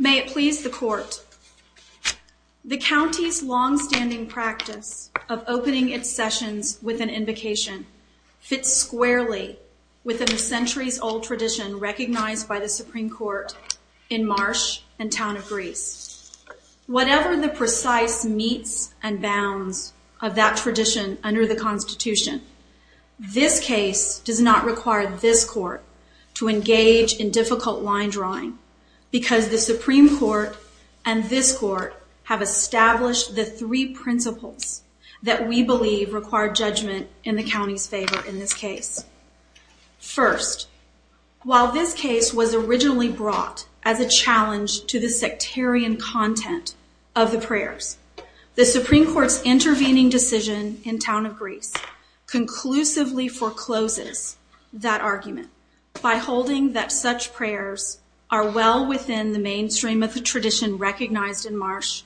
May it please the court, the county's long-standing practice of opening its sessions with an invocation fits squarely with the centuries-old tradition recognized by the Supreme Court in Marsh and Town of Greece. Whatever the precise meets and bounds of that tradition under the Constitution, this case does not require this court to engage in difficult line drawing because the Supreme Court and this court have established the three principles that we believe require judgment in the county's favor in this case. First, while this case was originally brought as a challenge to the sectarian content of the prayers, the Supreme Court's intervening decision in Town of Greece conclusively forecloses that argument by holding that such prayers are well within the mainstream of the tradition recognized in Marsh,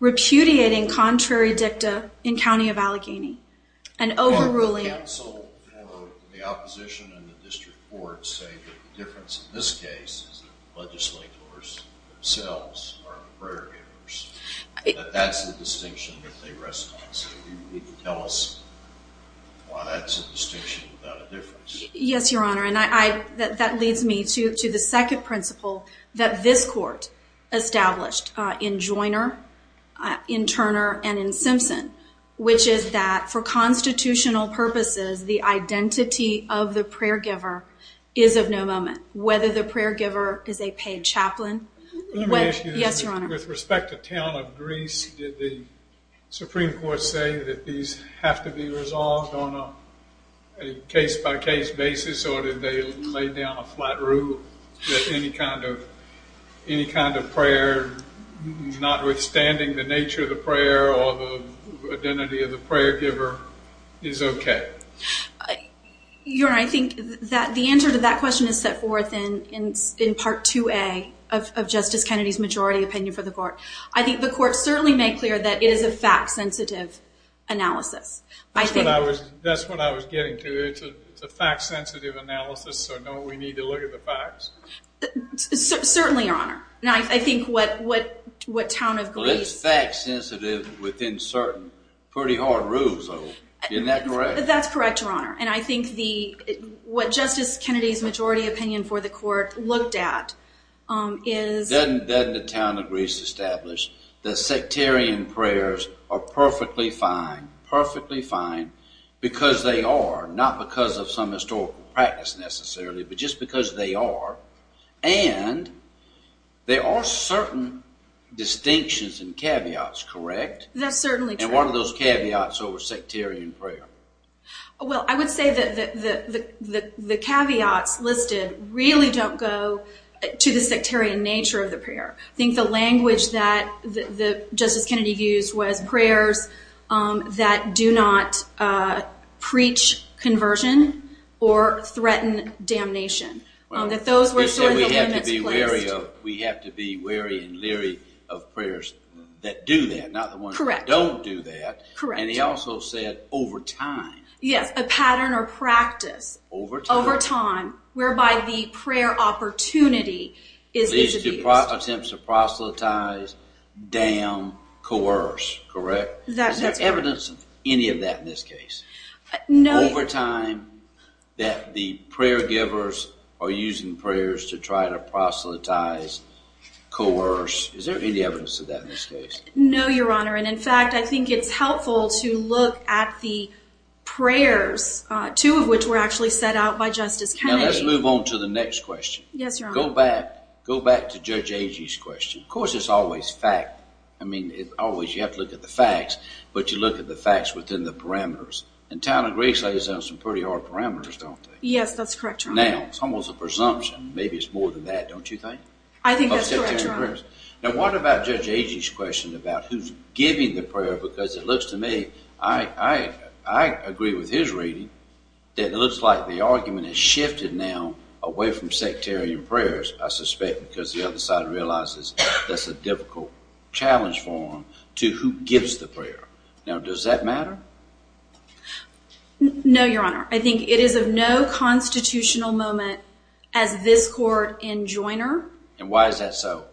repudiating contrary dicta in County of Allegheny, and overruling... The counsel for the opposition and the district court say that the difference in this case is that the legislators themselves are the prayer givers. That's the distinction that they response to. Tell us why that's a distinction without a difference. Yes, Your Honor, and that leads me to the second principle that this court established in Joiner, in Turner, and in Simpson, which is that for constitutional purposes the identity of the prayer giver is of no moment. Whether the prayer giver is a town of Greece, did the Supreme Court say that these have to be resolved on a case-by-case basis, or did they lay down a flat rule that any kind of prayer, not withstanding the nature of the prayer or the identity of the prayer giver, is okay? Your Honor, I think that the answer to that question is set forth in Part 2A of Justice Kennedy's majority opinion for the court. I think the court certainly made clear that it is a fact-sensitive analysis. That's what I was getting to. It's a fact-sensitive analysis, so no, we need to look at the facts. Certainly, Your Honor. I think what town of Greece... Well, it's fact-sensitive within certain pretty hard rules, though. Isn't that correct? That's correct, Your Honor, and I think what Justice Kennedy's majority opinion for the court looked at is... Doesn't the town of Greece establish that sectarian prayers are perfectly fine, perfectly fine, because they are, not because of some historical practice necessarily, but just because they are, and there are certain distinctions and caveats, correct? That's certainly true. And what are those caveats over sectarian prayer? Well, I would say that the caveats listed really don't go to the sectarian nature of the prayer. I think the language that Justice Kennedy used was prayers that do not preach conversion or threaten damnation. That those were sort of the limits placed. We have to be wary and leery of prayers that do that, not the ones that don't do that. And he also said over time. Yes, a pattern or practice over time whereby the prayer opportunity is abused. These two attempts to proselytize, damn, coerce, correct? Is there evidence of any of that in this case? No, Your Honor. Over time that the prayer givers are using prayers to try to proselytize, coerce. Is there any evidence of that in this case? No, Your Honor. And in fact, I think it's helpful to look at the prayers, two of which were actually set out by Justice Kennedy. Now, let's move on to the next question. Yes, Your Honor. Go back to Judge Agee's question. Of course, it's always fact. I mean, it's always you have to look at the facts, but you look at the facts within the parameters. In town of Greece, they have some pretty hard parameters, don't they? Yes, that's correct, Your Honor. Now, it's almost a presumption. Maybe it's more than that, don't you think? I think that's correct, Your Honor. Now, what about Judge Agee's question about who's giving the prayer? Because it looks to me, I agree with his reading, that it looks like the argument has shifted now away from sectarian prayers, I suspect because the other side realizes that's a difficult challenge for them, to who gives the prayer. Now, does that matter? No, Your Honor. I think it is of no constitutional moment as this court in Joyner. And why is that so?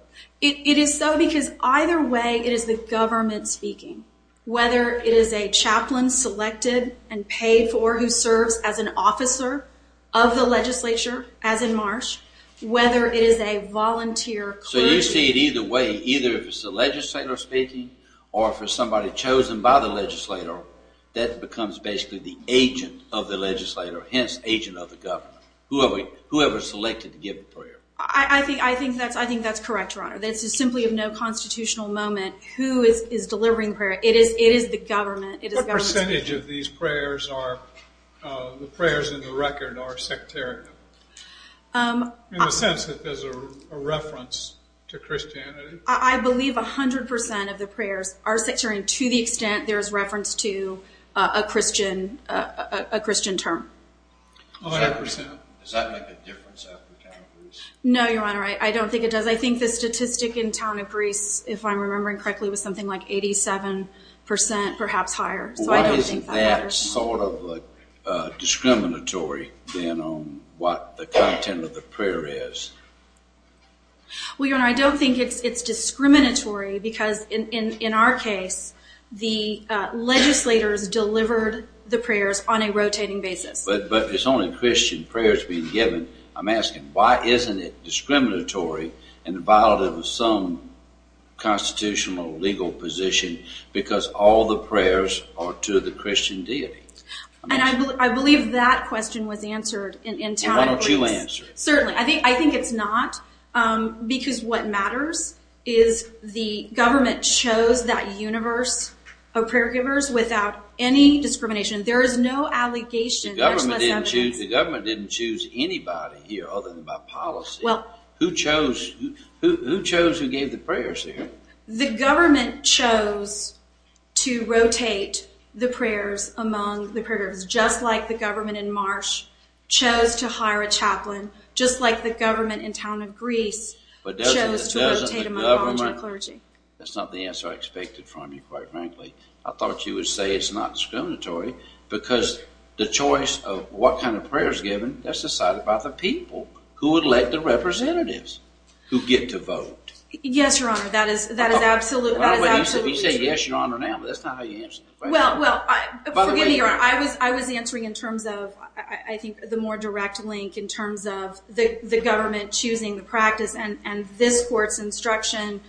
It is so because either way, it is the government speaking. Whether it is a chaplain selected and paid for who serves as an officer of the legislature, as in Marsh, whether it is a volunteer clergy... So you see it either way, either if it's the legislator speaking or if it's somebody chosen by the legislator, that becomes basically the agent of the legislator, hence agent of the government. Whoever selected to give the prayer. I think that's correct, Your Honor. This is simply of no constitutional moment. Who is delivering the prayer? It is the government. What percentage of these prayers are, the prayers in the record, are sectarian? In the sense that there's a reference to Christianity? I believe 100% of the prayers are sectarian to the extent there's reference to a Christian term. 100%? Does that make a difference after Town of Priests? No, Your Honor, I don't think it does. I think the statistic in Town of Priests, if I'm remembering correctly, was something like 87%, perhaps higher. So I don't think that matters. Why isn't that sort of discriminatory then on what the content of the prayer is? Well, Your Honor, I don't think it's discriminatory because in our case, the legislators delivered the prayers on a rotating basis. But it's only Christian prayers being given. I'm asking, why isn't it discriminatory and violative of some constitutional or legal position because all the prayers are to the Christian deity? I believe that question was answered in Town of Priests. Why don't you answer it? Certainly. I think it's not because what matters is the government chose that universe of prayer givers without any discrimination. There is no allegation, much less evidence. The government didn't choose anybody here other than by policy. Who chose who gave the prayers there? The government chose to rotate the prayers among the prayer givers, just like the government in Marsh chose to hire a chaplain, just like the government in Town of Greece chose to rotate among clergy. That's not the answer I expected from you, quite frankly. I thought you would say it's not discriminatory because the choice of what kind of prayer is given, that's decided by the people who elect the representatives who get to vote. Yes, Your Honor. That is absolutely true. He said yes, Your Honor, now. That's not how you answer the question. Well, forgive me, Your Honor. I was answering in terms of, I think, the more direct link in terms of the government choosing the practice and this court's instruction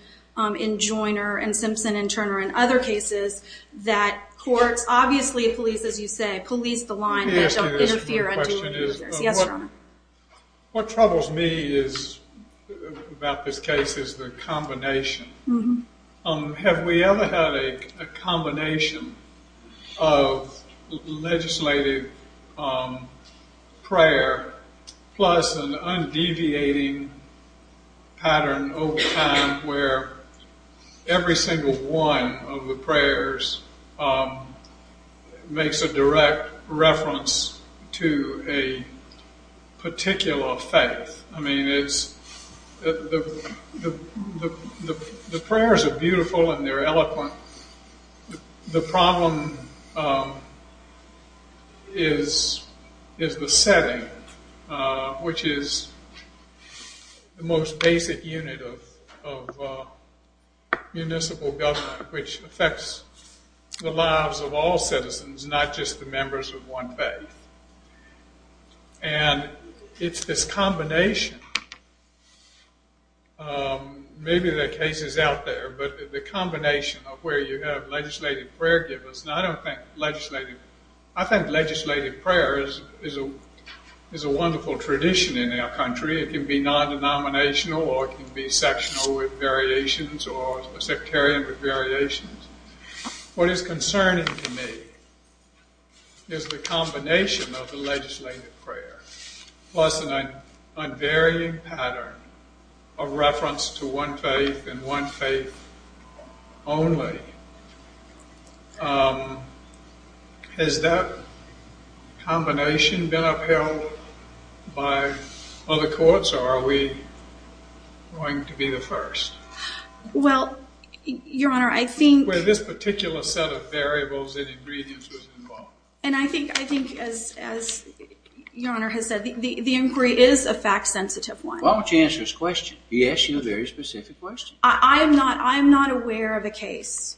in Joyner and Simpson and Turner and other cases that courts, obviously the police, as you say, police the line that don't interfere. Yes, Your Honor. What troubles me about this case is the combination. Have we ever had a combination of legislative prayer plus an undeviating pattern over time where every single one of the prayers makes a direct reference to a particular faith? I mean, the prayers are beautiful and they're eloquent. The problem is the setting, which is the most basic unit of municipal government, which affects the lives of all citizens, not just the members of one faith. And it's this combination. Maybe there are cases out there, but the combination of where you have legislative prayer given. I don't think legislative... I think legislative prayer is a wonderful tradition in our country. It can be non-denominational or it can be sectional with variations or sectarian with variations. What is concerning to me is the combination of the legislative prayer plus an unvarying pattern of reference to one faith and one faith only. Has that combination been upheld by other courts or are we going to be the first? Well, Your Honor, I think... Where this particular set of variables and ingredients was involved. And I think, as Your Honor has said, the inquiry is a fact-sensitive one. Why don't you answer his question? He asked you a very specific question. I'm not aware of a case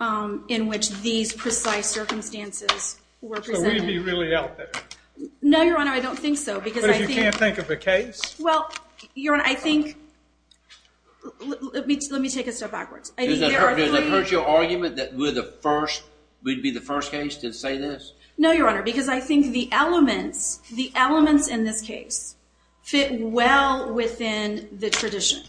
in which these precise circumstances were presented. So we'd be really out there? No, Your Honor, I don't think so. But if you can't think of a case? Well, Your Honor, I think... Let me take a step backwards. Does that hurt your argument that we'd be the first case to say this? No, Your Honor, because I think the elements in this case fit well within the tradition.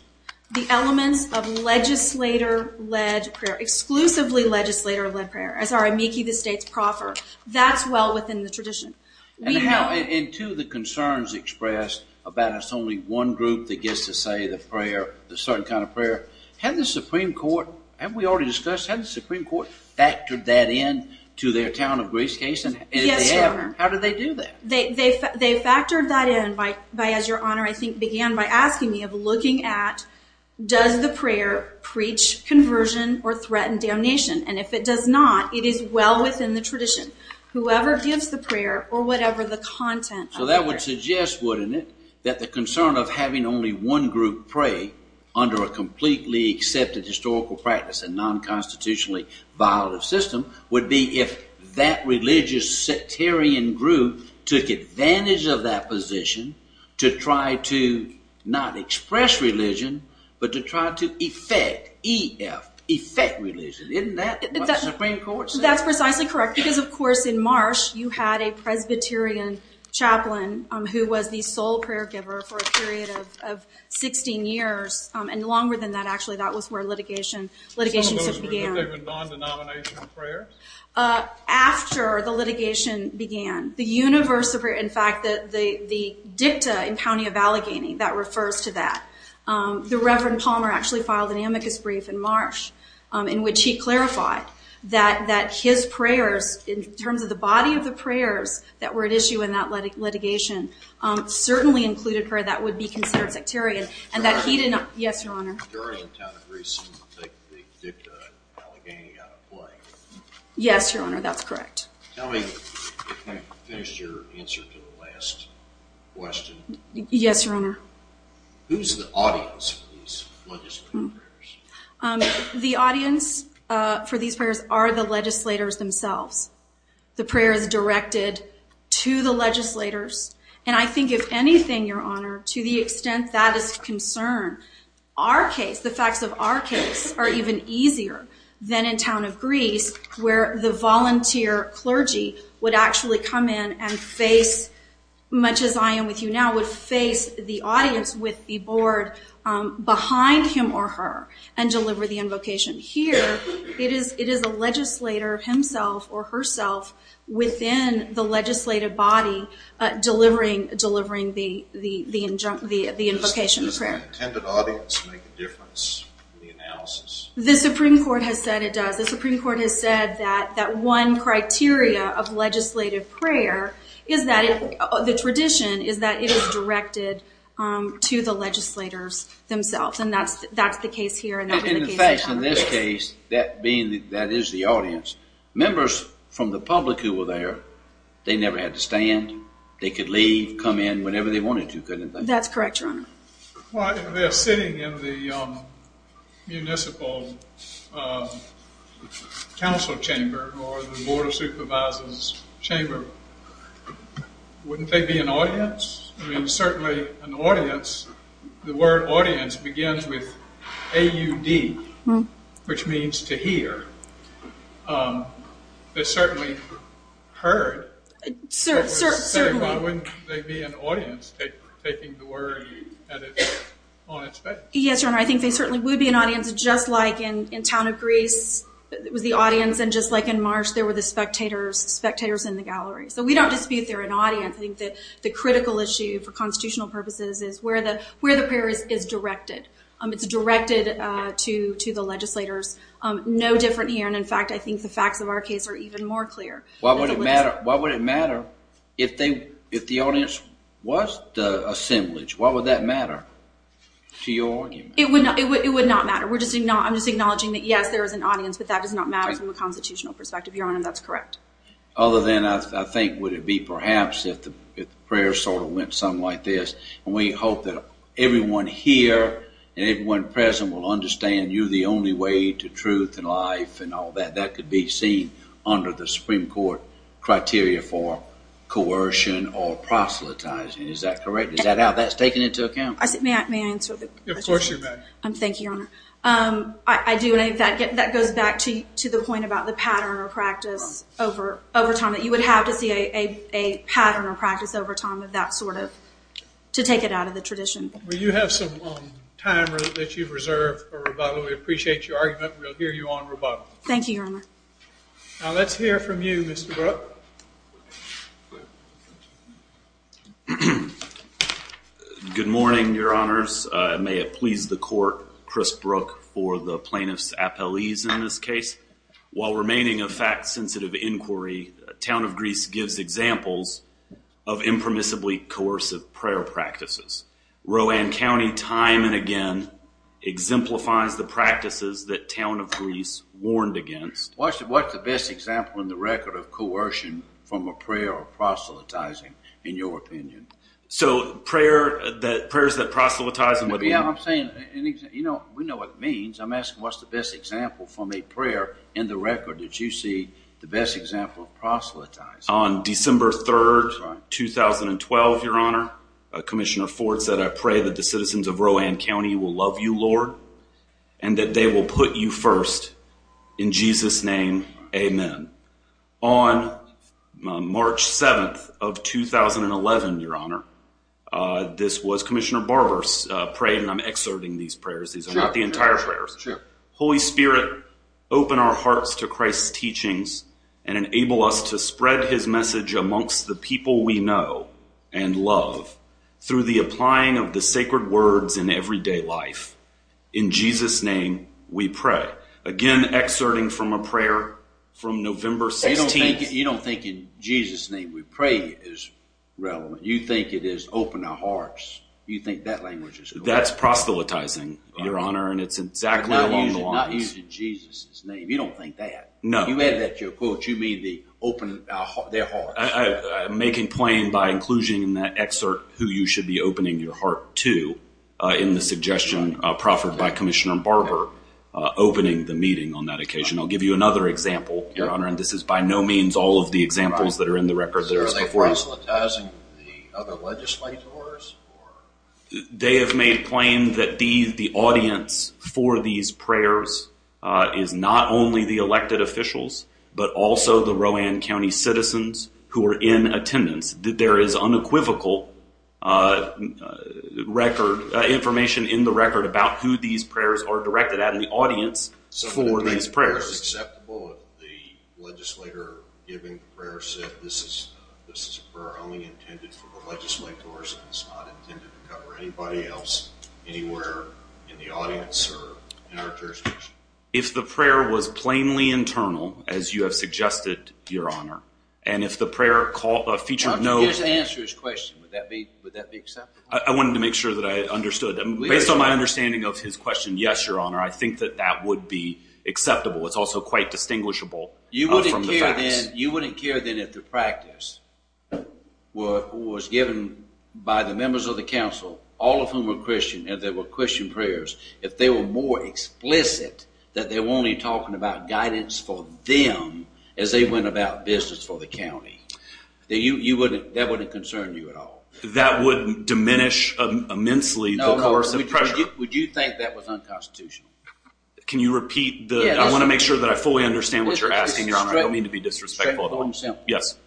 The elements of legislator-led prayer, exclusively legislator-led prayer, as our amici, the states, proffer, that's well within the tradition. And to the concerns expressed about it's only one group that gets to say the prayer, a certain kind of prayer, had the Supreme Court, have we already discussed, had the Supreme Court factored that in to their Town of Greece case? Yes, Your Honor. How did they do that? They factored that in by, as Your Honor, I think, began by asking me of looking at does the prayer preach conversion or threaten damnation? And if it does not, it is well within the tradition. Whoever gives the prayer, or whatever the content... So that would suggest, wouldn't it, that the concern of having only one group pray under a completely accepted historical practice and non-constitutionally violative system would be if that religious sectarian group took advantage of that position to try to not express religion, but to try to effect, E-F, effect religion. Isn't that what the Supreme Court said? That's precisely correct. Because, of course, in Marsh, you had a Presbyterian chaplain who was the sole prayer giver for a period of 16 years. And longer than that, actually, that was where litigation began. Some of those were non-denominational prayers? After the litigation began. The universe of prayer... In fact, the dicta in the County of Allegheny, that refers to that. The Reverend Palmer actually filed an amicus brief in Marsh in which he clarified that his prayers, in terms of the body of the prayers that were at issue in that litigation, certainly included prayer that would be considered sectarian. And that he did not... Yes, Your Honor. The majority of the town agrees to take the dicta in Allegheny out of play. Yes, Your Honor, that's correct. Tell me... I finished your answer to the last question. Yes, Your Honor. Who's the audience for these legislative prayers? The audience for these prayers are the legislators themselves. The prayer is directed to the legislators. And I think, if anything, Your Honor, to the extent that is of concern, our case, the facts of our case, are even easier than in town of Greece, where the volunteer clergy would actually come in and face, much as I am with you now, would face the audience with the board behind him or her and deliver the invocation. Here, it is a legislator himself or herself within the legislative body delivering the invocation prayer. Does the intended audience make a difference in the analysis? The Supreme Court has said it does. The Supreme Court has said that one criteria of legislative prayer, the tradition, is that it is directed to the legislators themselves. And that's the case here. In fact, in this case, that is the audience. Members from the public who were there, they never had to stand. They could leave, come in, whenever they wanted to. That's correct, Your Honor. Well, if they're sitting in the municipal council chamber or the board of supervisors' chamber, wouldn't they be an audience? I mean, certainly an audience, the word audience begins with A-U-D, which means to hear. They certainly heard. Certainly. But wouldn't they be an audience taking the word on its face? Yes, Your Honor, I think they certainly would be an audience, just like in town of Greece was the audience, and just like in March there were the spectators in the gallery. So we don't dispute they're an audience. I think that the critical issue for constitutional purposes is where the prayer is directed. It's directed to the legislators. No different here, and in fact, I think the facts of our case are even more clear. Why would it matter if the audience was the assemblage? Why would that matter to your argument? It would not matter. I'm just acknowledging that, yes, there is an audience, but that does not matter from a constitutional perspective, Your Honor. That's correct. Other than I think would it be perhaps if the prayer sort of went something like this, and we hope that everyone here and everyone present will understand you're the only way to truth and life and all that. That could be seen under the Supreme Court criteria for coercion or proselytizing. Is that correct? Is that how that's taken into account? May I answer the question? Of course you may. Thank you, Your Honor. I do, and in fact, that goes back to the point about the pattern or practice over time, that you would have to see a pattern or practice over time of that sort to take it out of the tradition. Well, you have some time that you've reserved for rebuttal. We appreciate your argument, and we'll hear you on rebuttal. Thank you, Your Honor. Now let's hear from you, Mr. Brooke. Good morning, Your Honors. May it please the court, Chris Brooke, for the plaintiff's appellees in this case. While remaining a fact-sensitive inquiry, Town of Greece gives examples of impermissibly coercive prayer practices. Rowan County time and again exemplifies the practices that Town of Greece warned against. What's the best example in the record of coercion from a prayer of proselytizing, in your opinion? So prayers that proselytize... Yeah, I'm saying, you know, we know what it means. I'm asking what's the best example from a prayer in the record that you see the best example of proselytizing. On December 3, 2012, Your Honor, Commissioner Ford said, I pray that the citizens of Rowan County will love you, Lord, and that they will put you first. In Jesus' name, amen. On March 7 of 2011, Your Honor, this was Commissioner Barber's prayer, and I'm exerting these prayers. These are not the entire prayers. Holy Spirit, open our hearts to Christ's teachings and enable us to spread His message amongst the people we know and love through the applying of the sacred words in everyday life. In Jesus' name, we pray. Again, exerting from a prayer from November 16. You don't think in Jesus' name we pray is relevant. You think it is open our hearts. You think that language is correct. That's proselytizing, Your Honor, and it's exactly along the lines... Not using Jesus' name. You don't think that. No. You added that to your quote. You mean the open their hearts. I'm making plain by inclusion in that excerpt who you should be opening your heart to in the suggestion proffered by Commissioner Barber opening the meeting on that occasion. I'll give you another example, Your Honor, and this is by no means all of the examples that are in the record that are before you. So are they proselytizing the other legislators? They have made plain that the audience for these prayers is not only the elected officials, but also the Rowan County citizens who are in attendance. There is unequivocal information in the record about who these prayers are directed at in the audience for these prayers. So it makes the prayer acceptable if the legislator giving the prayer said this is a prayer only intended for the legislators and it's not intended to cover anybody else anywhere in the audience or in our jurisdiction? If the prayer was plainly internal, as you have suggested, Your Honor, and if the prayer featured no... Why don't you just answer his question? Would that be acceptable? I wanted to make sure that I understood. Based on my understanding of his question, yes, Your Honor, I think that that would be acceptable. It's also quite distinguishable from the facts. You wouldn't care then if the practice was given by the members of the council, all of whom were Christian, and there were Christian prayers, if they were more explicit that they were only talking about guidance for them as they went about business for the county. That wouldn't concern you at all. That would diminish immensely the course of pressure. Would you think that was unconstitutional? Can you repeat the... I want to make sure that I fully understand what you're asking, Your Honor. I don't mean to be disrespectful. Straightforward and simple. Yes.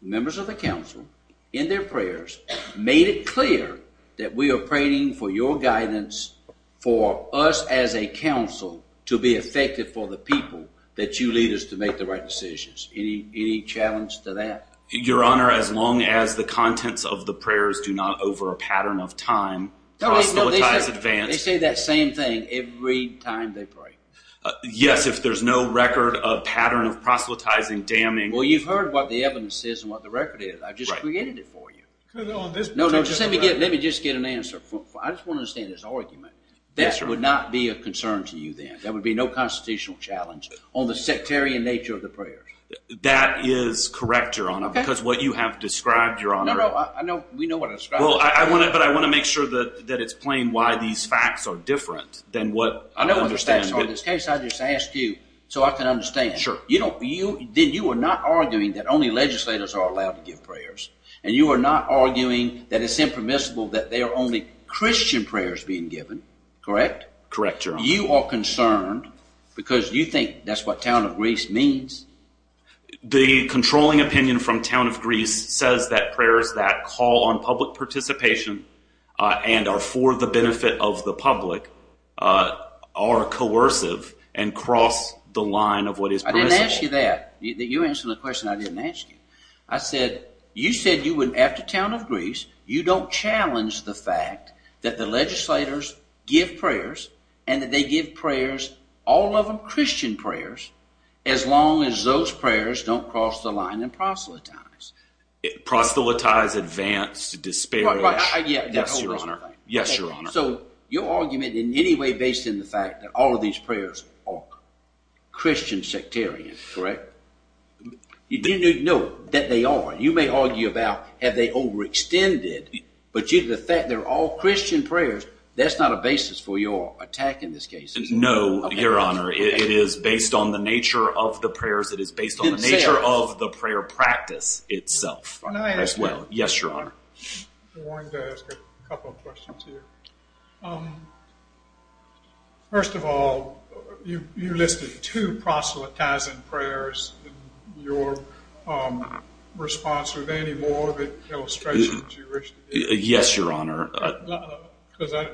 Members of the council, in their prayers, made it clear that we are praying for your guidance, for us as a council to be effective for the people that you lead us to make the right decisions. Any challenge to that? Your Honor, as long as the contents of the prayers do not over a pattern of time, proselytize advance... They say that same thing every time they pray. Yes, if there's no record of pattern of proselytizing, damning... Well, you've heard what the evidence is and what the record is. I've just created it for you. No, no, let me just get an answer. I just want to understand this argument. That would not be a concern to you then? There would be no constitutional challenge on the sectarian nature of the prayers? That is correct, Your Honor, because what you have described, Your Honor... No, no, we know what it's about. But I want to make sure that it's plain why these facts are different than what... I know what the facts are in this case. I just asked you so I can understand. Then you are not arguing that only legislators are allowed to give prayers, and you are not arguing that it's impermissible that there are only Christian prayers being given. Correct? Correct, Your Honor. You are concerned because you think that's what Town of Greece means. The controlling opinion from Town of Greece says that prayers that call on public participation and are for the benefit of the public are coercive and cross the line of what is permissible. I didn't ask you that. You answered the question I didn't ask you. I said, you said after Town of Greece you don't challenge the fact that the legislators give prayers and that they give prayers, all of them Christian prayers, as long as those prayers don't cross the line and proselytize. Proselytize, advance, disparage... Yes, Your Honor. Yes, Your Honor. So your argument in any way based on the fact that all of these prayers are Christian sectarian, correct? No, that they are. You may argue about have they overextended, but due to the fact they're all Christian prayers, that's not a basis for your attack in this case. No, Your Honor. It is based on the nature of the prayers. It is based on the nature of the prayer practice itself as well. Yes, Your Honor. I wanted to ask a couple of questions here. First of all, you listed two proselytizing prayers in your response. Are there any more illustrations you wish to give? Yes, Your Honor. Because I...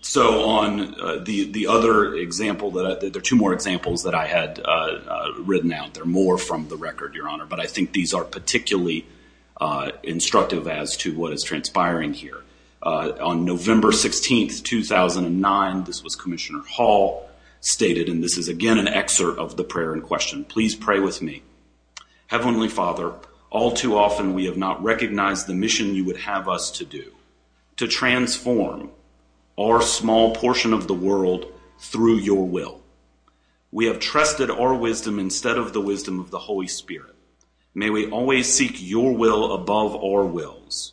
So on the other example, there are two more examples that I had written out. There are more from the record, Your Honor, but I think these are particularly instructive as to what is transpiring here. On November 16, 2009, this was Commissioner Hall stated, and this is again an excerpt of the prayer in question. Please pray with me. Heavenly Father, all too often we have not recognized the mission you would have us to do, to transform our small portion of the world through your will. We have trusted our wisdom instead of the wisdom of the Holy Spirit. May we always seek your will above our wills.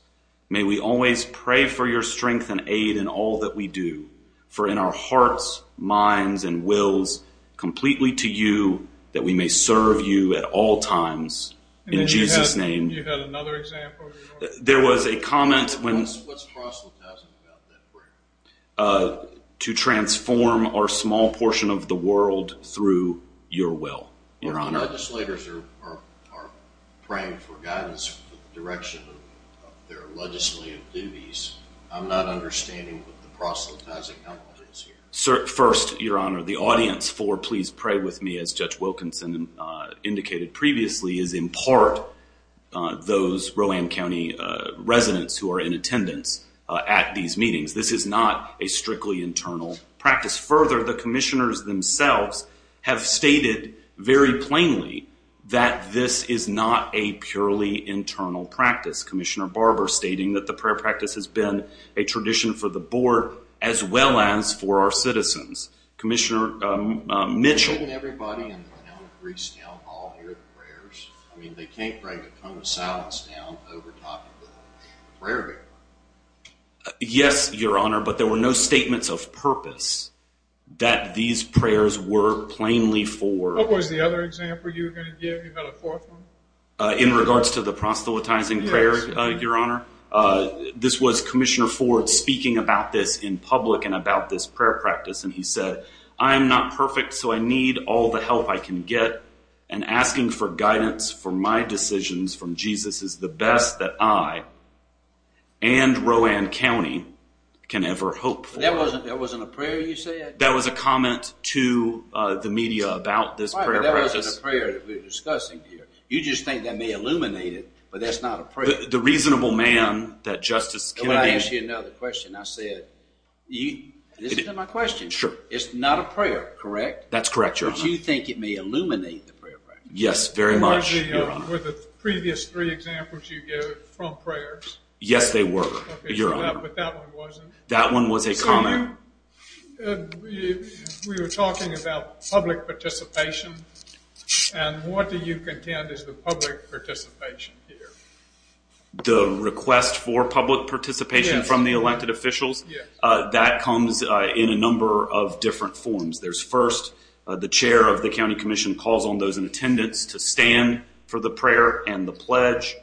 May we always pray for your strength and aid in all that we do. For in our hearts, minds, and wills, completely to you that we may serve you at all times. In Jesus' name. You had another example? There was a comment when... What's proselytizing about that prayer? To transform our small portion of the world through your will. Your Honor. When legislators are praying for guidance for the direction of their legislative duties, I'm not understanding what the proselytizing element is here. First, Your Honor, the audience for please pray with me, as Judge Wilkinson indicated previously, is in part those Roland County residents who are in attendance at these meetings. This is not a strictly internal practice. Further, the commissioners themselves have stated very plainly that this is not a purely internal practice. Commissioner Barber stating that the prayer practice has been a tradition for the board as well as for our citizens. Commissioner Mitchell... Shouldn't everybody in Greece now all hear the prayers? I mean, they can't bring a cone of salads down over top of the prayer table. Yes, Your Honor, but there were no statements of purpose that these prayers were plainly for... What was the other example you were going to give? You had a fourth one? In regards to the proselytizing prayer, Your Honor, this was Commissioner Ford speaking about this in public and about this prayer practice, and he said, I am not perfect, so I need all the help I can get, and asking for guidance for my decisions from Jesus is the best that I and Rowan County can ever hope for. That wasn't a prayer you said? That was a comment to the media about this prayer practice. Right, but that wasn't a prayer that we were discussing here. You just think that may illuminate it, but that's not a prayer. The reasonable man that Justice Kennedy... Can I ask you another question? I said, this isn't my question. Sure. It's not a prayer, correct? That's correct, Your Honor. But you think it may illuminate the prayer practice? Yes, very much, Your Honor. Were the previous three examples you gave from prayers? Yes, they were, Your Honor. Okay, but that one wasn't. That one was a comment. So we were talking about public participation, and what do you contend is the public participation here? The request for public participation from the elected officials? Yes. That comes in a number of different forms. There's first, the chair of the county commission calls on those in attendance to stand for the prayer and the pledge.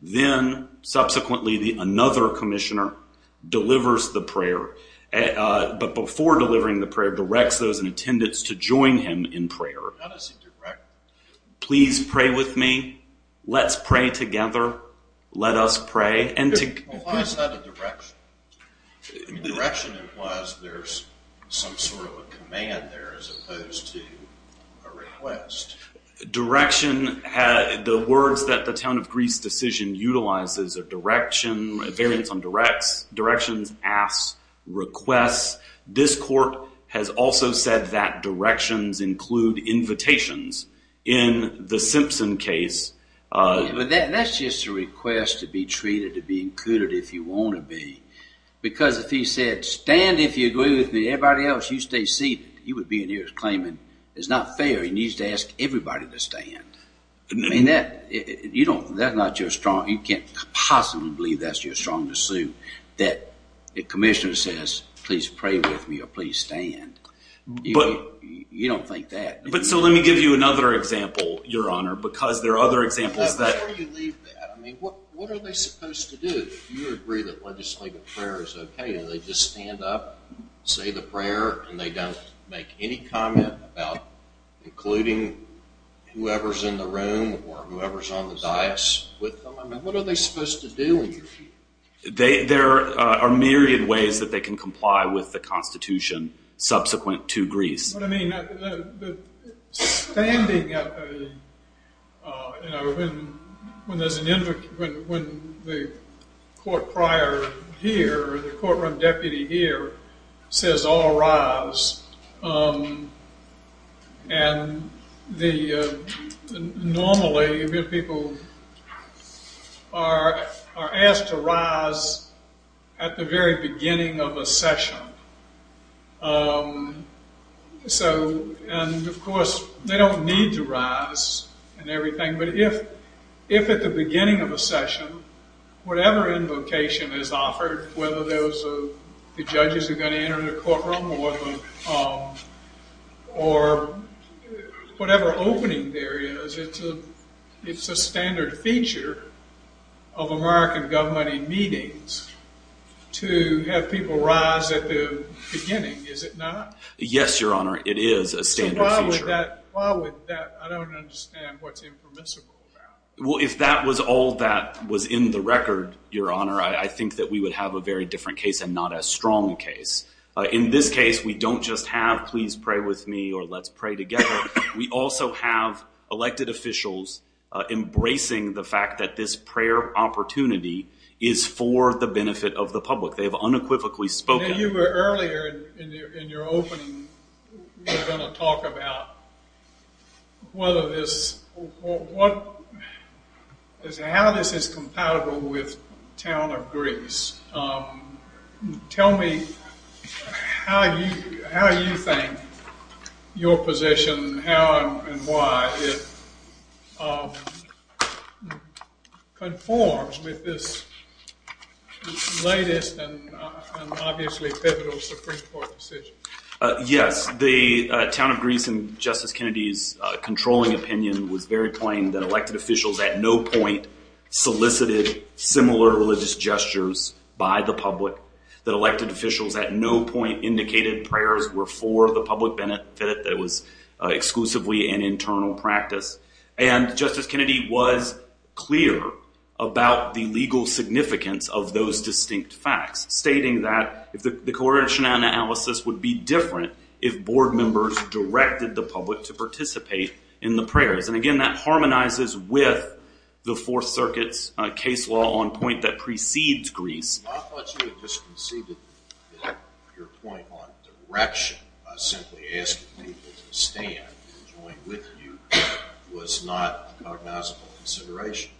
Then, subsequently, another commissioner delivers the prayer, but before delivering the prayer directs those in attendance to join him in prayer. How does he direct? Please pray with me. Let's pray together. Let us pray. Why is that a direction? Direction implies there's some sort of a command there as opposed to a request. Direction, the words that the town of Greece decision utilizes are direction, a variance on directs, directions, asks, requests. This court has also said that directions include invitations. In the Simpson case. That's just a request to be treated, to be included if you want to be, because if he said, stand if you agree with me, everybody else, you stay seated, he would be in here claiming it's not fair. He needs to ask everybody to stand. You can't possibly believe that's your strongest suit that a commissioner says, please pray with me or please stand. You don't think that. Let me give you another example, Your Honor, because there are other examples. Before you leave that, what are they supposed to do? If you agree that legislative prayer is okay, do they just stand up, say the prayer, and they don't make any comment about including whoever's in the room or whoever's on the dais with them? What are they supposed to do? There are myriad ways that they can comply with the Constitution subsequent to Greece. But, I mean, standing up, you know, when there's an invocation, when the court prior here or the courtroom deputy here says all rise, and normally people are asked to rise at the very beginning of a session. And, of course, they don't need to rise and everything, but if at the beginning of a session whatever invocation is offered, whether those are the judges who are going to enter the courtroom or whatever opening there is, it's a standard feature of American government in meetings to have people rise at the beginning, is it not? Yes, Your Honor, it is a standard feature. So why would that? I don't understand what's impermissible about it. Well, if all that was in the record, Your Honor, I think that we would have a very different case and not as strong a case. In this case, we don't just have please pray with me or let's pray together. We also have elected officials embracing the fact that this prayer opportunity is for the benefit of the public. They have unequivocally spoken. You were earlier in your opening, you were going to talk about whether this, how this is compatible with Town of Greece. Tell me how you think your position, how and why it conforms with this latest and obviously pivotal Supreme Court decision. Yes, the Town of Greece and Justice Kennedy's controlling opinion was very plain that elected officials at no point solicited similar religious gestures by the public, that elected officials at no point indicated prayers were for the public benefit, that it was exclusively an internal practice. And Justice Kennedy was clear about the legal significance of those distinct facts, stating that the coercion analysis would be different if board members directed the public to participate in the prayers. And again, that harmonizes with the Fourth Circuit's case law on point that precedes Greece. I thought you had just conceded that your point on direction, simply asking people to stand and join with you, was not a cognizable consideration.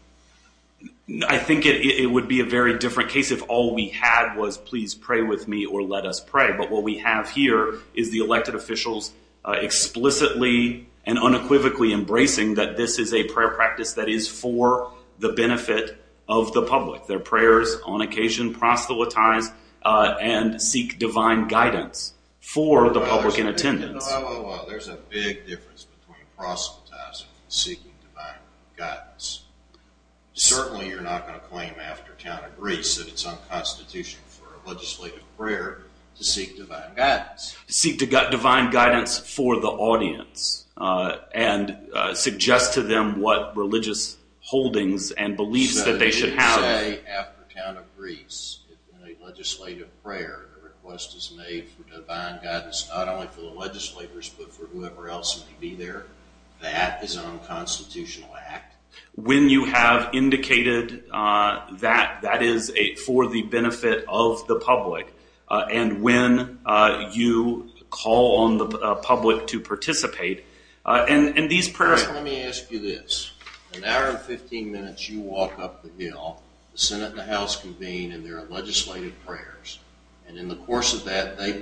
I think it would be a very different case if all we had was please pray with me or let us pray. But what we have here is the elected officials explicitly and unequivocally embracing that this is a prayer practice that is for the benefit of the public. Their prayers on occasion proselytize and seek divine guidance for the public in attendance. Well, there's a big difference between proselytizing and seeking divine guidance. Certainly you're not going to claim after count of Greece that it's unconstitutional for a legislative prayer to seek divine guidance. To seek divine guidance for the audience and suggest to them what religious holdings and beliefs that they should have. You say after count of Greece in a legislative prayer, a request is made for divine guidance not only for the legislators but for whoever else may be there. That is an unconstitutional act. When you have indicated that that is for the benefit of the public and when you call on the public to participate, and these prayers... Let me ask you this. An hour and 15 minutes you walk up the hill, the Senate and the House convene and there are legislative prayers, and in the course of that they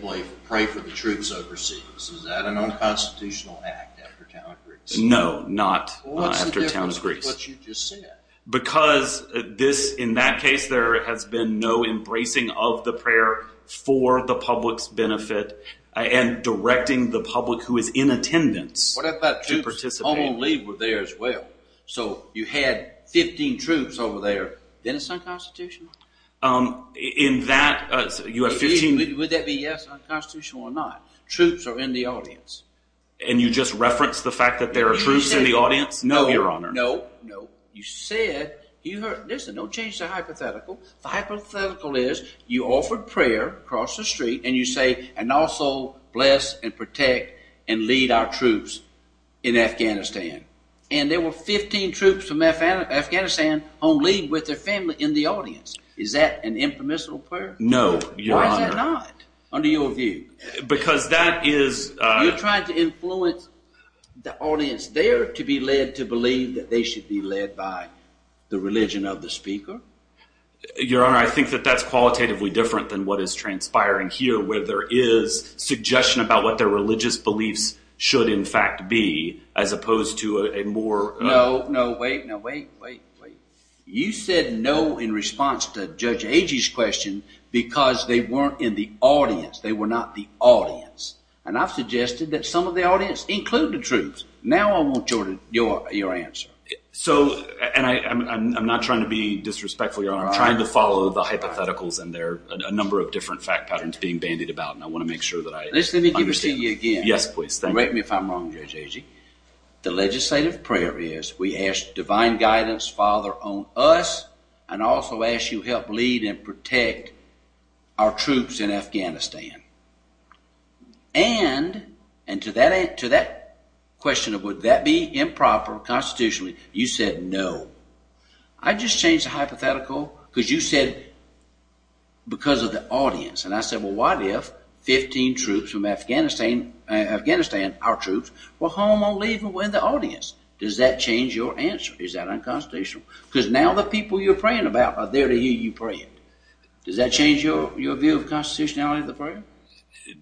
pray for the troops overseas. Is that an unconstitutional act after count of Greece? No, not after count of Greece. What's the difference with what you just said? Because in that case there has been no embracing of the prayer for the public's benefit and directing the public who is in attendance to participate. What about troops on leave were there as well? So you had 15 troops over there. Then it's unconstitutional? In that you have 15... Would that be, yes, unconstitutional or not? Troops are in the audience. And you just referenced the fact that there are troops in the audience? No, Your Honor. No, no. You said... Listen, don't change the hypothetical. The hypothetical is you offered prayer across the street and you say, and also bless and protect and lead our troops in Afghanistan. And there were 15 troops from Afghanistan on leave with their family in the audience. Is that an impermissible prayer? No, Your Honor. Why is that not under your view? Because that is... You're trying to influence the audience there to be led to believe that they should be led by the religion of the speaker? Your Honor, I think that that's qualitatively different than what is transpiring here where there is suggestion about what their religious beliefs should in fact be as opposed to a more... No, no, wait, no, wait, wait, wait. You said no in response to Judge Agee's question because they weren't in the audience. They were not the audience. And I've suggested that some of the audience, including the troops. Now I want your answer. So, and I'm not trying to be disrespectful, Your Honor. I'm trying to follow the hypotheticals, and there are a number of different fact patterns being bandied about, and I want to make sure that I understand. Listen, let me give it to you again. Yes, please. Correct me if I'm wrong, Judge Agee. The legislative prayer is we ask divine guidance, Father, on us and also ask you help lead and protect our troops in Afghanistan. And to that question of would that be improper constitutionally, you said no. I just changed the hypothetical because you said because of the audience. And I said, well, what if 15 troops from Afghanistan, our troops, were home on leave and were in the audience? Does that change your answer? Is that unconstitutional? Because now the people you're praying about are there to hear you pray. Does that change your view of constitutionality of the prayer?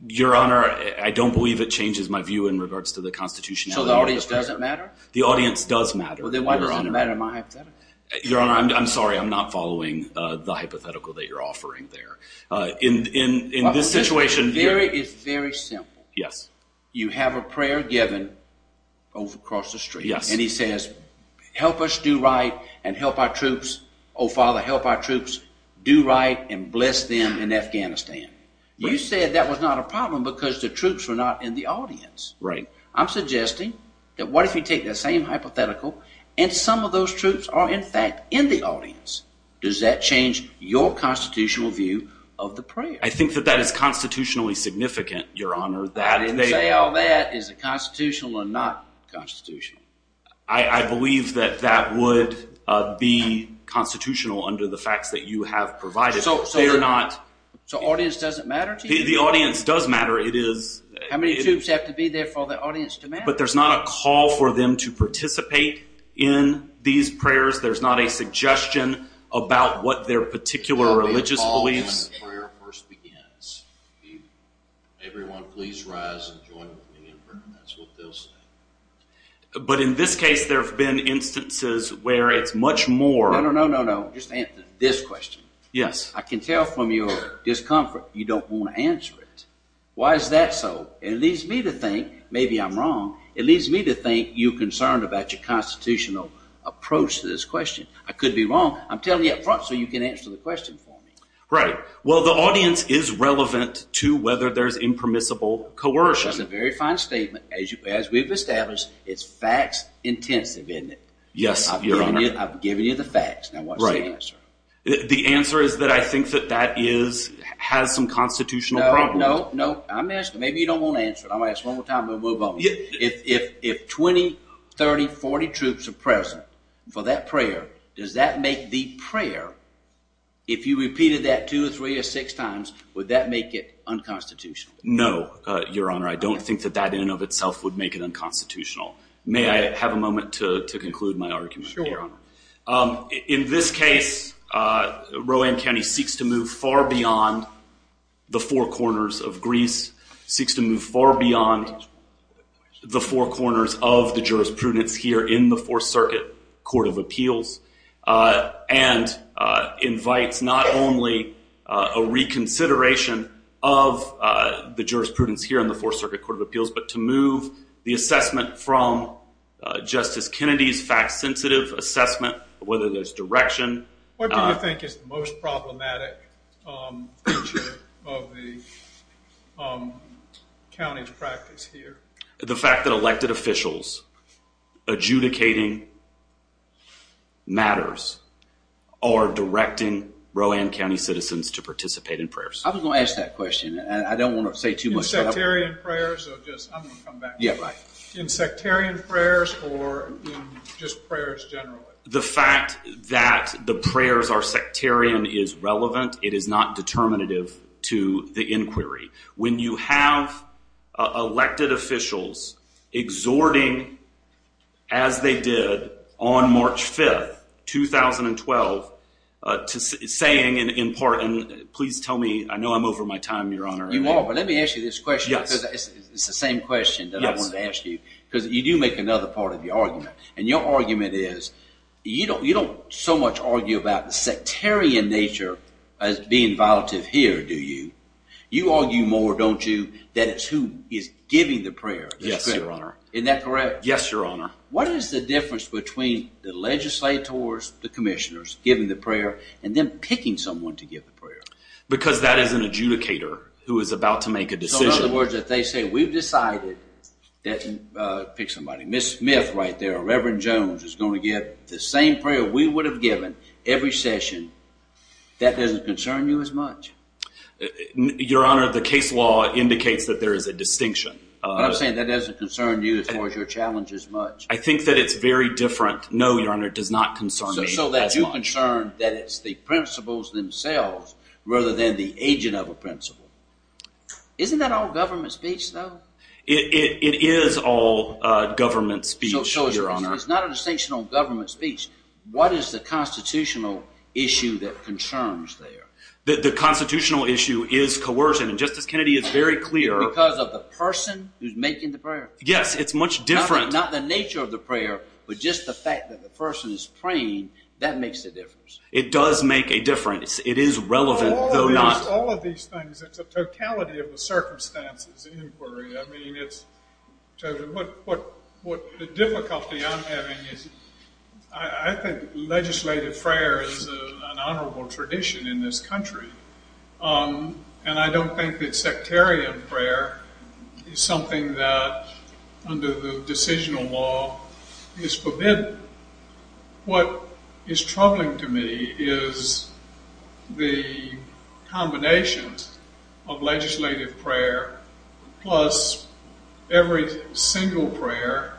Your Honor, I don't believe it changes my view in regards to the constitutionality of the prayer. So the audience doesn't matter? The audience does matter. Well, then why does it matter in my hypothetical? Your Honor, I'm sorry, I'm not following the hypothetical that you're offering there. In this situation. It's very simple. Yes. You have a prayer given across the street. Yes. And he says help us do right and help our troops. Oh, Father, help our troops do right and bless them in Afghanistan. You said that was not a problem because the troops were not in the audience. Right. I'm suggesting that what if you take that same hypothetical and some of those troops are, in fact, in the audience. Does that change your constitutional view of the prayer? I think that that is constitutionally significant, Your Honor. I didn't say all that. Is it constitutional or not constitutional? I believe that that would be constitutional under the facts that you have provided. So the audience doesn't matter to you? The audience does matter. How many troops have to be there for the audience to matter? But there's not a call for them to participate in these prayers. There's not a suggestion about what their particular religious beliefs. Everyone, please rise and join with me in prayer. That's what they'll say. But in this case, there have been instances where it's much more. No, no, no, no, no. Just answer this question. Yes. I can tell from your discomfort you don't want to answer it. Why is that so? It leads me to think maybe I'm wrong. It leads me to think you're concerned about your constitutional approach to this question. I could be wrong. I'm telling you up front so you can answer the question for me. Right. Well, the audience is relevant to whether there's impermissible coercion. That's a very fine statement. As we've established, it's facts intensive, isn't it? Yes, Your Honor. I've given you the facts. Now, what's the answer? The answer is that I think that that has some constitutional problem. No, no, no. I'm asking. Maybe you don't want to answer it. I'm going to ask one more time, then we'll move on. If 20, 30, 40 troops are present for that prayer, does that make the prayer, if you repeated that two or three or six times, would that make it unconstitutional? No, Your Honor. I don't think that that in and of itself would make it unconstitutional. May I have a moment to conclude my argument, Your Honor? Sure. In this case, Rowan County seeks to move far beyond the four corners of Greece, seeks to move far beyond the four corners of the jurisprudence here in the Fourth Circuit Court of Appeals, and invites not only a reconsideration of the jurisprudence here in the Fourth Circuit Court of Appeals, but to move the assessment from Justice Kennedy's facts sensitive assessment, whether there's direction. What do you think is the most problematic feature of the county's practice here? The fact that elected officials adjudicating matters or directing Rowan County citizens to participate in prayers. I was going to ask that question. I don't want to say too much. In sectarian prayers or just, I'm going to come back to that. In sectarian prayers or just prayers generally? The fact that the prayers are sectarian is relevant. It is not determinative to the inquiry. When you have elected officials exhorting, as they did on March 5th, 2012, to saying in part, and please tell me, I know I'm over my time, Your Honor. You are, but let me ask you this question. Yes. It's the same question that I wanted to ask you. Because you do make another part of your argument. Your argument is you don't so much argue about the sectarian nature as being violative here, do you? You argue more, don't you, that it's who is giving the prayer. Yes, Your Honor. Isn't that correct? Yes, Your Honor. What is the difference between the legislators, the commissioners giving the prayer, and them picking someone to give the prayer? Because that is an adjudicator who is about to make a decision. So, in other words, if they say, we've decided that, pick somebody, Miss Smith right there, or Reverend Jones is going to give the same prayer we would have given every session, that doesn't concern you as much? Your Honor, the case law indicates that there is a distinction. But I'm saying that doesn't concern you as far as your challenge as much. I think that it's very different. No, Your Honor, it does not concern me as much. So that you're concerned that it's the principals themselves rather than the agent of a principal. Isn't that all government speech, though? It is all government speech, Your Honor. So it's not a distinction on government speech. What is the constitutional issue that concerns there? The constitutional issue is coercion, and Justice Kennedy is very clear. Because of the person who's making the prayer? Yes, it's much different. Not the nature of the prayer, but just the fact that the person is praying, that makes a difference. It does make a difference. It is relevant, though not. It's not just all of these things. It's a totality of the circumstances in inquiry. I mean, the difficulty I'm having is I think legislative prayer is an honorable tradition in this country. And I don't think that sectarian prayer is something that under the decisional law is forbidden. What is troubling to me is the combinations of legislative prayer plus every single prayer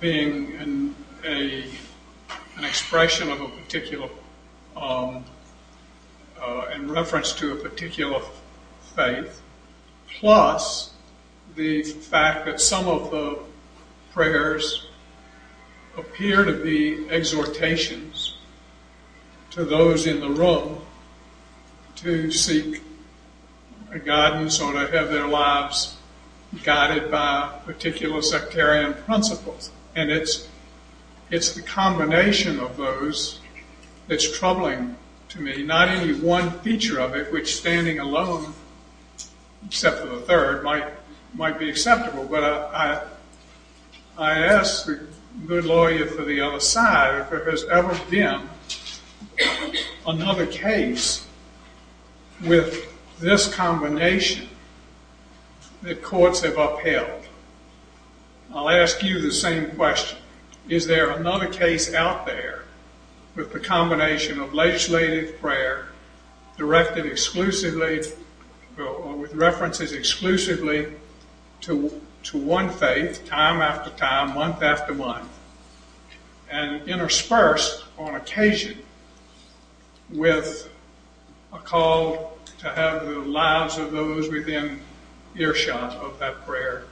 being an expression of a particular, in reference to a particular faith, plus the fact that some of the prayers appear to be exhortations to those in the room to seek guidance or to have their lives guided by particular sectarian principles. And it's the combination of those that's troubling to me. Not any one feature of it, which standing alone, except for the third, might be acceptable. But I ask the good lawyer for the other side, if there has ever been another case with this combination that courts have upheld. I'll ask you the same question. Is there another case out there with the combination of legislative prayer directed exclusively or with references exclusively to one faith, time after time, month after month, and interspersed on occasion with a call to have the lives of those within earshot of that prayer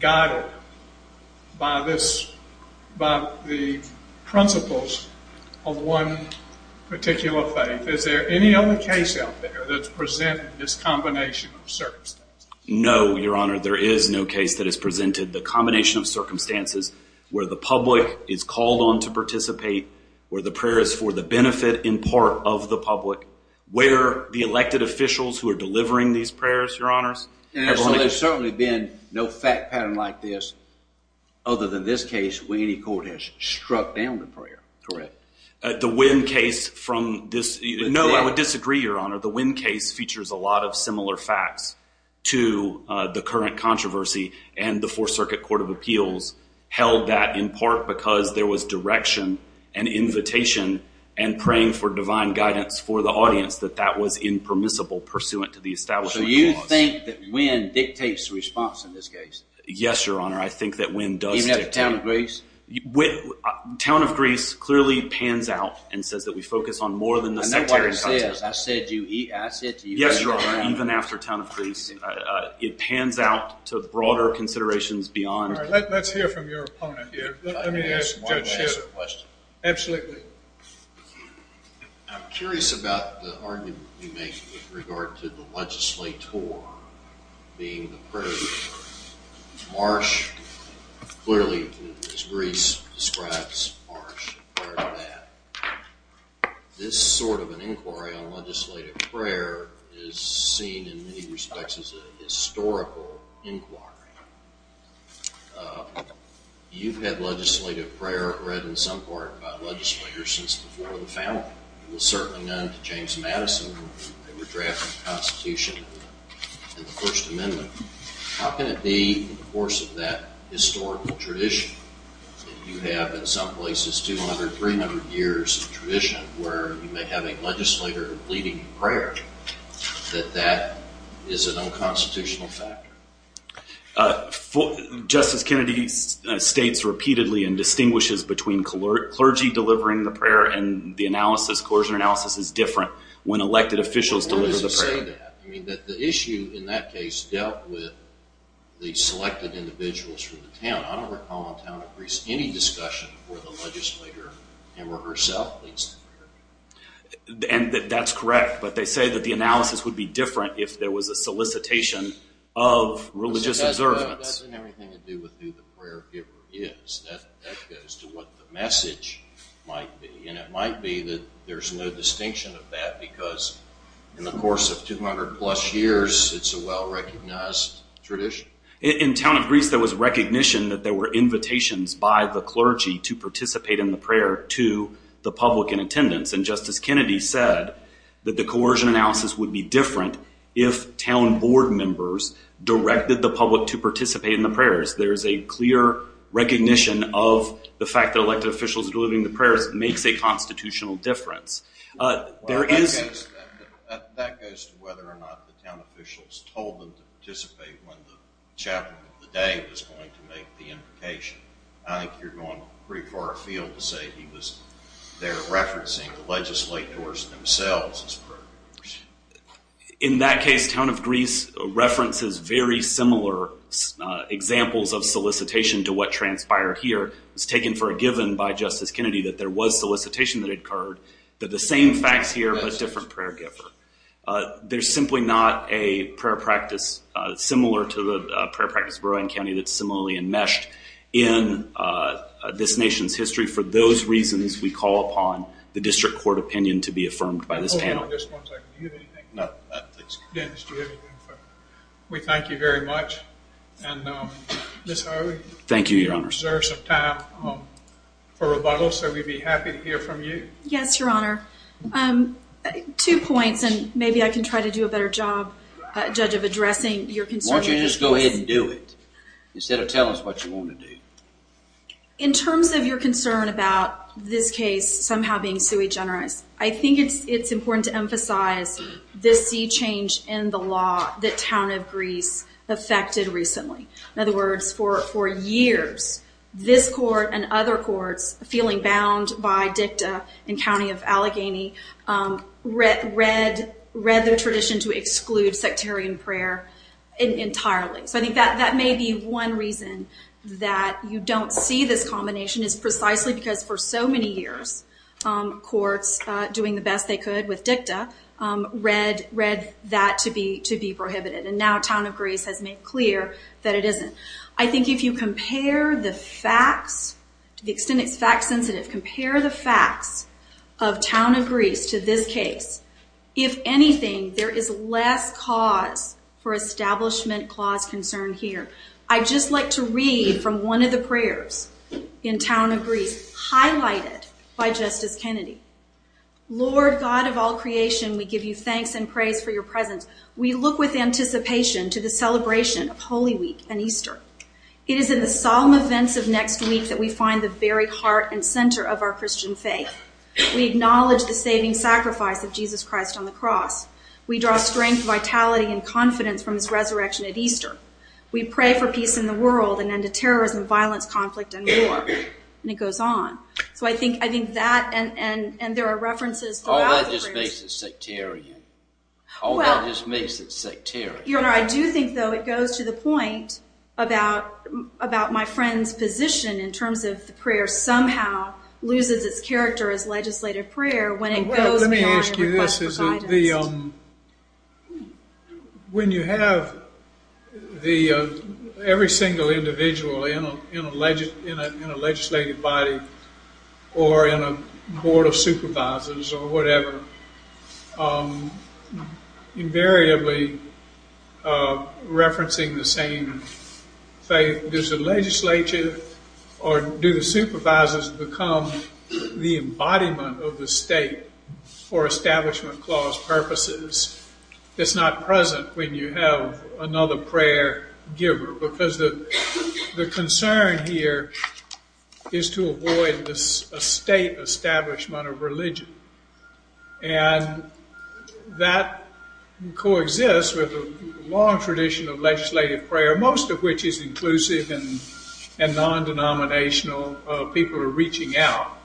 guided by this, by the principles of one particular faith? Is there any other case out there that's presented this combination of circumstances? No, Your Honor. There is no case that has presented the combination of circumstances where the public is called on to participate, where the prayer is for the benefit in part of the public, where the elected officials who are delivering these prayers, Your Honors. And so there's certainly been no fact pattern like this other than this case where any court has struck down the prayer. Correct. No, I would disagree, Your Honor. The Wynn case features a lot of similar facts to the current controversy, and the Fourth Circuit Court of Appeals held that in part because there was direction and invitation and praying for divine guidance for the audience that that was impermissible pursuant to the establishment clause. So you think that Wynn dictates the response in this case? Yes, Your Honor. I think that Wynn does dictate. Even at the town of Greece? Town of Greece clearly pans out and says that we focus on more than the sectarian context. And that's what I said. I said you eat acid. Yes, Your Honor. Even after town of Greece, it pans out to broader considerations beyond. All right. Let's hear from your opponent here. Let me ask Judge Shearer a question. Absolutely. I'm curious about the argument you make with regard to the legislator being the prayer. Marsh, clearly, as Greece describes Marsh prior to that, this sort of an inquiry on legislative prayer is seen in many respects as a historical inquiry. You've had legislative prayer read in some part by legislators since before the founding. It was certainly known to James Madison in the draft of the Constitution and the First Amendment. How can it be, in the course of that historical tradition, that you have in some places 200, 300 years of tradition, where you may have a legislator leading the prayer, that that is an unconstitutional factor? Justice Kennedy states repeatedly and distinguishes between clergy delivering the prayer and the analysis, coercion analysis, is different when elected officials deliver the prayer. Well, where does it say that? I mean, that the issue in that case dealt with the selected individuals from the town. I don't recall in town of Greece any discussion where the legislator him or herself leads the prayer. And that's correct, but they say that the analysis would be different if there was a solicitation of religious observance. But that doesn't have anything to do with who the prayer giver is. That goes to what the message might be. And it might be that there's no distinction of that because in the course of 200-plus years, it's a well-recognized tradition. In town of Greece, there was recognition that there were invitations by the clergy to participate in the prayer to the public in attendance. And Justice Kennedy said that the coercion analysis would be different if town board members directed the public to participate in the prayers. There's a clear recognition of the fact that elected officials delivering the prayers makes a constitutional difference. That goes to whether or not the town officials told them to participate when the chaplain of the day was going to make the invocation. I think you're going pretty far afield to say he was there referencing the legislators themselves. In that case, town of Greece references very similar examples of solicitation to what transpired here. It's taken for a given by Justice Kennedy that there was solicitation that occurred, that the same facts here, but a different prayer giver. There's simply not a prayer practice similar to the prayer practice of Rowan County for those reasons we call upon the district court opinion to be affirmed by this panel. Hold on just one second. Do you have anything? No. Dennis, do you have anything? We thank you very much. And Ms. Harvey? Thank you, Your Honor. We deserve some time for rebuttal, so we'd be happy to hear from you. Yes, Your Honor. Two points, and maybe I can try to do a better job, Judge, of addressing your concerns. Why don't you just go ahead and do it instead of tell us what you want to do? In terms of your concern about this case somehow being sui generis, I think it's important to emphasize this sea change in the law that town of Greece affected recently. In other words, for years, this court and other courts, feeling bound by dicta in County of Allegheny, read the tradition to exclude sectarian prayer entirely. So I think that may be one reason that you don't see this combination, is precisely because for so many years, courts doing the best they could with dicta read that to be prohibited, and now town of Greece has made clear that it isn't. I think if you compare the facts, to the extent it's fact sensitive, compare the facts of town of Greece to this case, if anything, there is less cause for establishment clause concern here. I'd just like to read from one of the prayers in town of Greece, highlighted by Justice Kennedy. Lord God of all creation, we give you thanks and praise for your presence. We look with anticipation to the celebration of Holy Week and Easter. It is in the solemn events of next week that we find the very heart and center of our Christian faith. We acknowledge the saving sacrifice of Jesus Christ on the cross. We draw strength, vitality, and confidence from his resurrection at Easter. We pray for peace in the world and end of terrorism, violence, conflict, and war. And it goes on. So I think that and there are references throughout the prayers. All that just makes it sectarian. All that just makes it sectarian. Your Honor, I do think though it goes to the point about my friend's position in terms of the prayer somehow loses its character as legislative prayer when it goes beyond request for guidance. Well, let me ask you this. When you have every single individual in a legislative body or in a board of supervisors or whatever, invariably referencing the same faith. Does the legislature or do the supervisors become the embodiment of the state for establishment clause purposes? It's not present when you have another prayer giver because the concern here is to avoid a state establishment of religion. And that coexists with a long tradition of legislative prayer, most of which is inclusive and non-denominational. People are reaching out.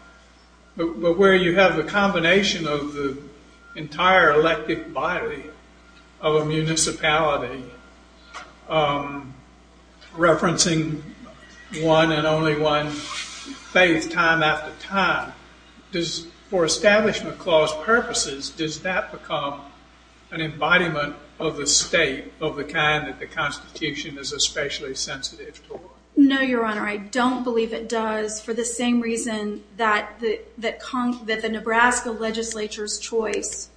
But where you have the combination of the entire elective body of a municipality referencing one and only one faith time after time, for establishment clause purposes, does that become an embodiment of the state of the kind that the Constitution is especially sensitive to? No, Your Honor. I don't believe it does for the same reason that the Nebraska legislature's choice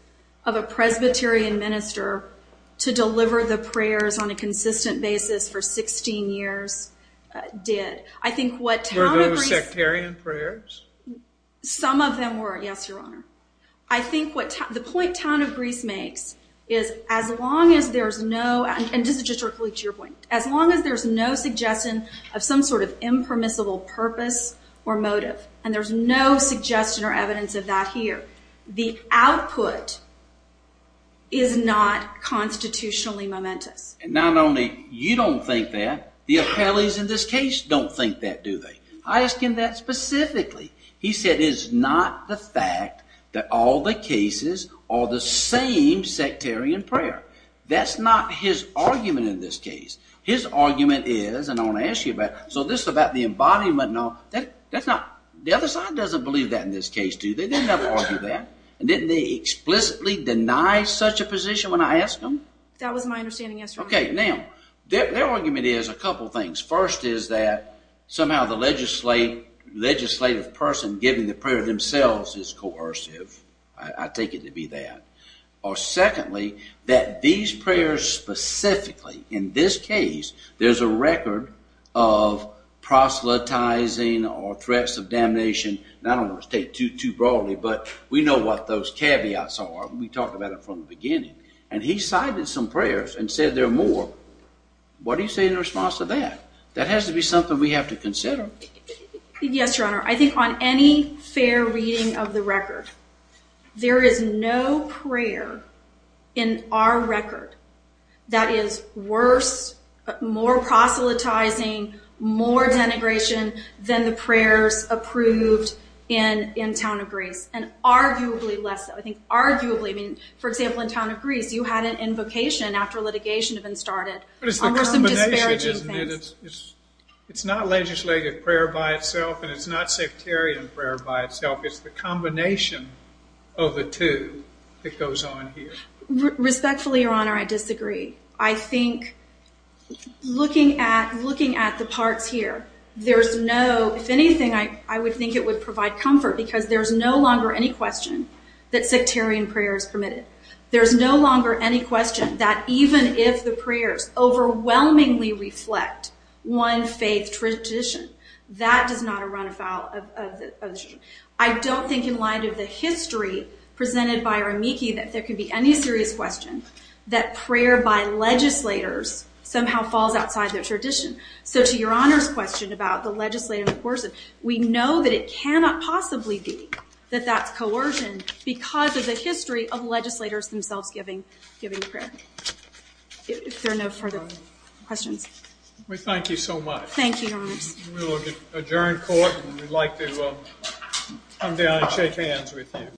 of a Presbyterian minister to deliver the prayers on a consistent basis for 16 years did. Were those sectarian prayers? Some of them were, yes, Your Honor. I think the point Town of Grease makes is as long as there's no, and this is just directly to your point, as long as there's no suggestion of some sort of impermissible purpose or motive, and there's no suggestion or evidence of that here, the output is not constitutionally momentous. And not only you don't think that, the appellees in this case don't think that, do they? I ask him that specifically. He said it's not the fact that all the cases are the same sectarian prayer. That's not his argument in this case. His argument is, and I want to ask you about it, so this is about the embodiment and all, that's not, the other side doesn't believe that in this case, do they? They never argue that. And didn't they explicitly deny such a position when I asked them? That was my understanding, yes, Your Honor. Okay, now, their argument is a couple things. First is that somehow the legislative person giving the prayer themselves is coercive. I take it to be that. Or secondly, that these prayers specifically, in this case, there's a record of proselytizing or threats of damnation, and I don't want to state too broadly, but we know what those caveats are. We talked about it from the beginning. And he cited some prayers and said there are more. What do you say in response to that? That has to be something we have to consider. Yes, Your Honor. I think on any fair reading of the record, there is no prayer in our record that is worse, more proselytizing, more denigration than the prayers approved in Town of Greece, and arguably less so. I think arguably, I mean, for example, in Town of Greece, you had an invocation after litigation had been started. But it's the combination, isn't it? It's not legislative prayer by itself, and it's not sectarian prayer by itself. It's the combination of the two that goes on here. Respectfully, Your Honor, I disagree. I think looking at the parts here, there's no, if anything, I would think it would provide comfort because there's no longer any question that sectarian prayer is permitted. There's no longer any question that even if the prayers overwhelmingly reflect one faith tradition, that does not run afoul of the tradition. I don't think, in light of the history presented by Rameke, that there could be any serious question that prayer by legislators somehow falls outside their tradition. So to Your Honor's question about the legislative coercive, we know that it cannot possibly be that that's coercion because of the history of legislators themselves giving prayer. If there are no further questions. We thank you so much. Thank you, Your Honors. We will adjourn court, and we'd like to come down and shake hands with you.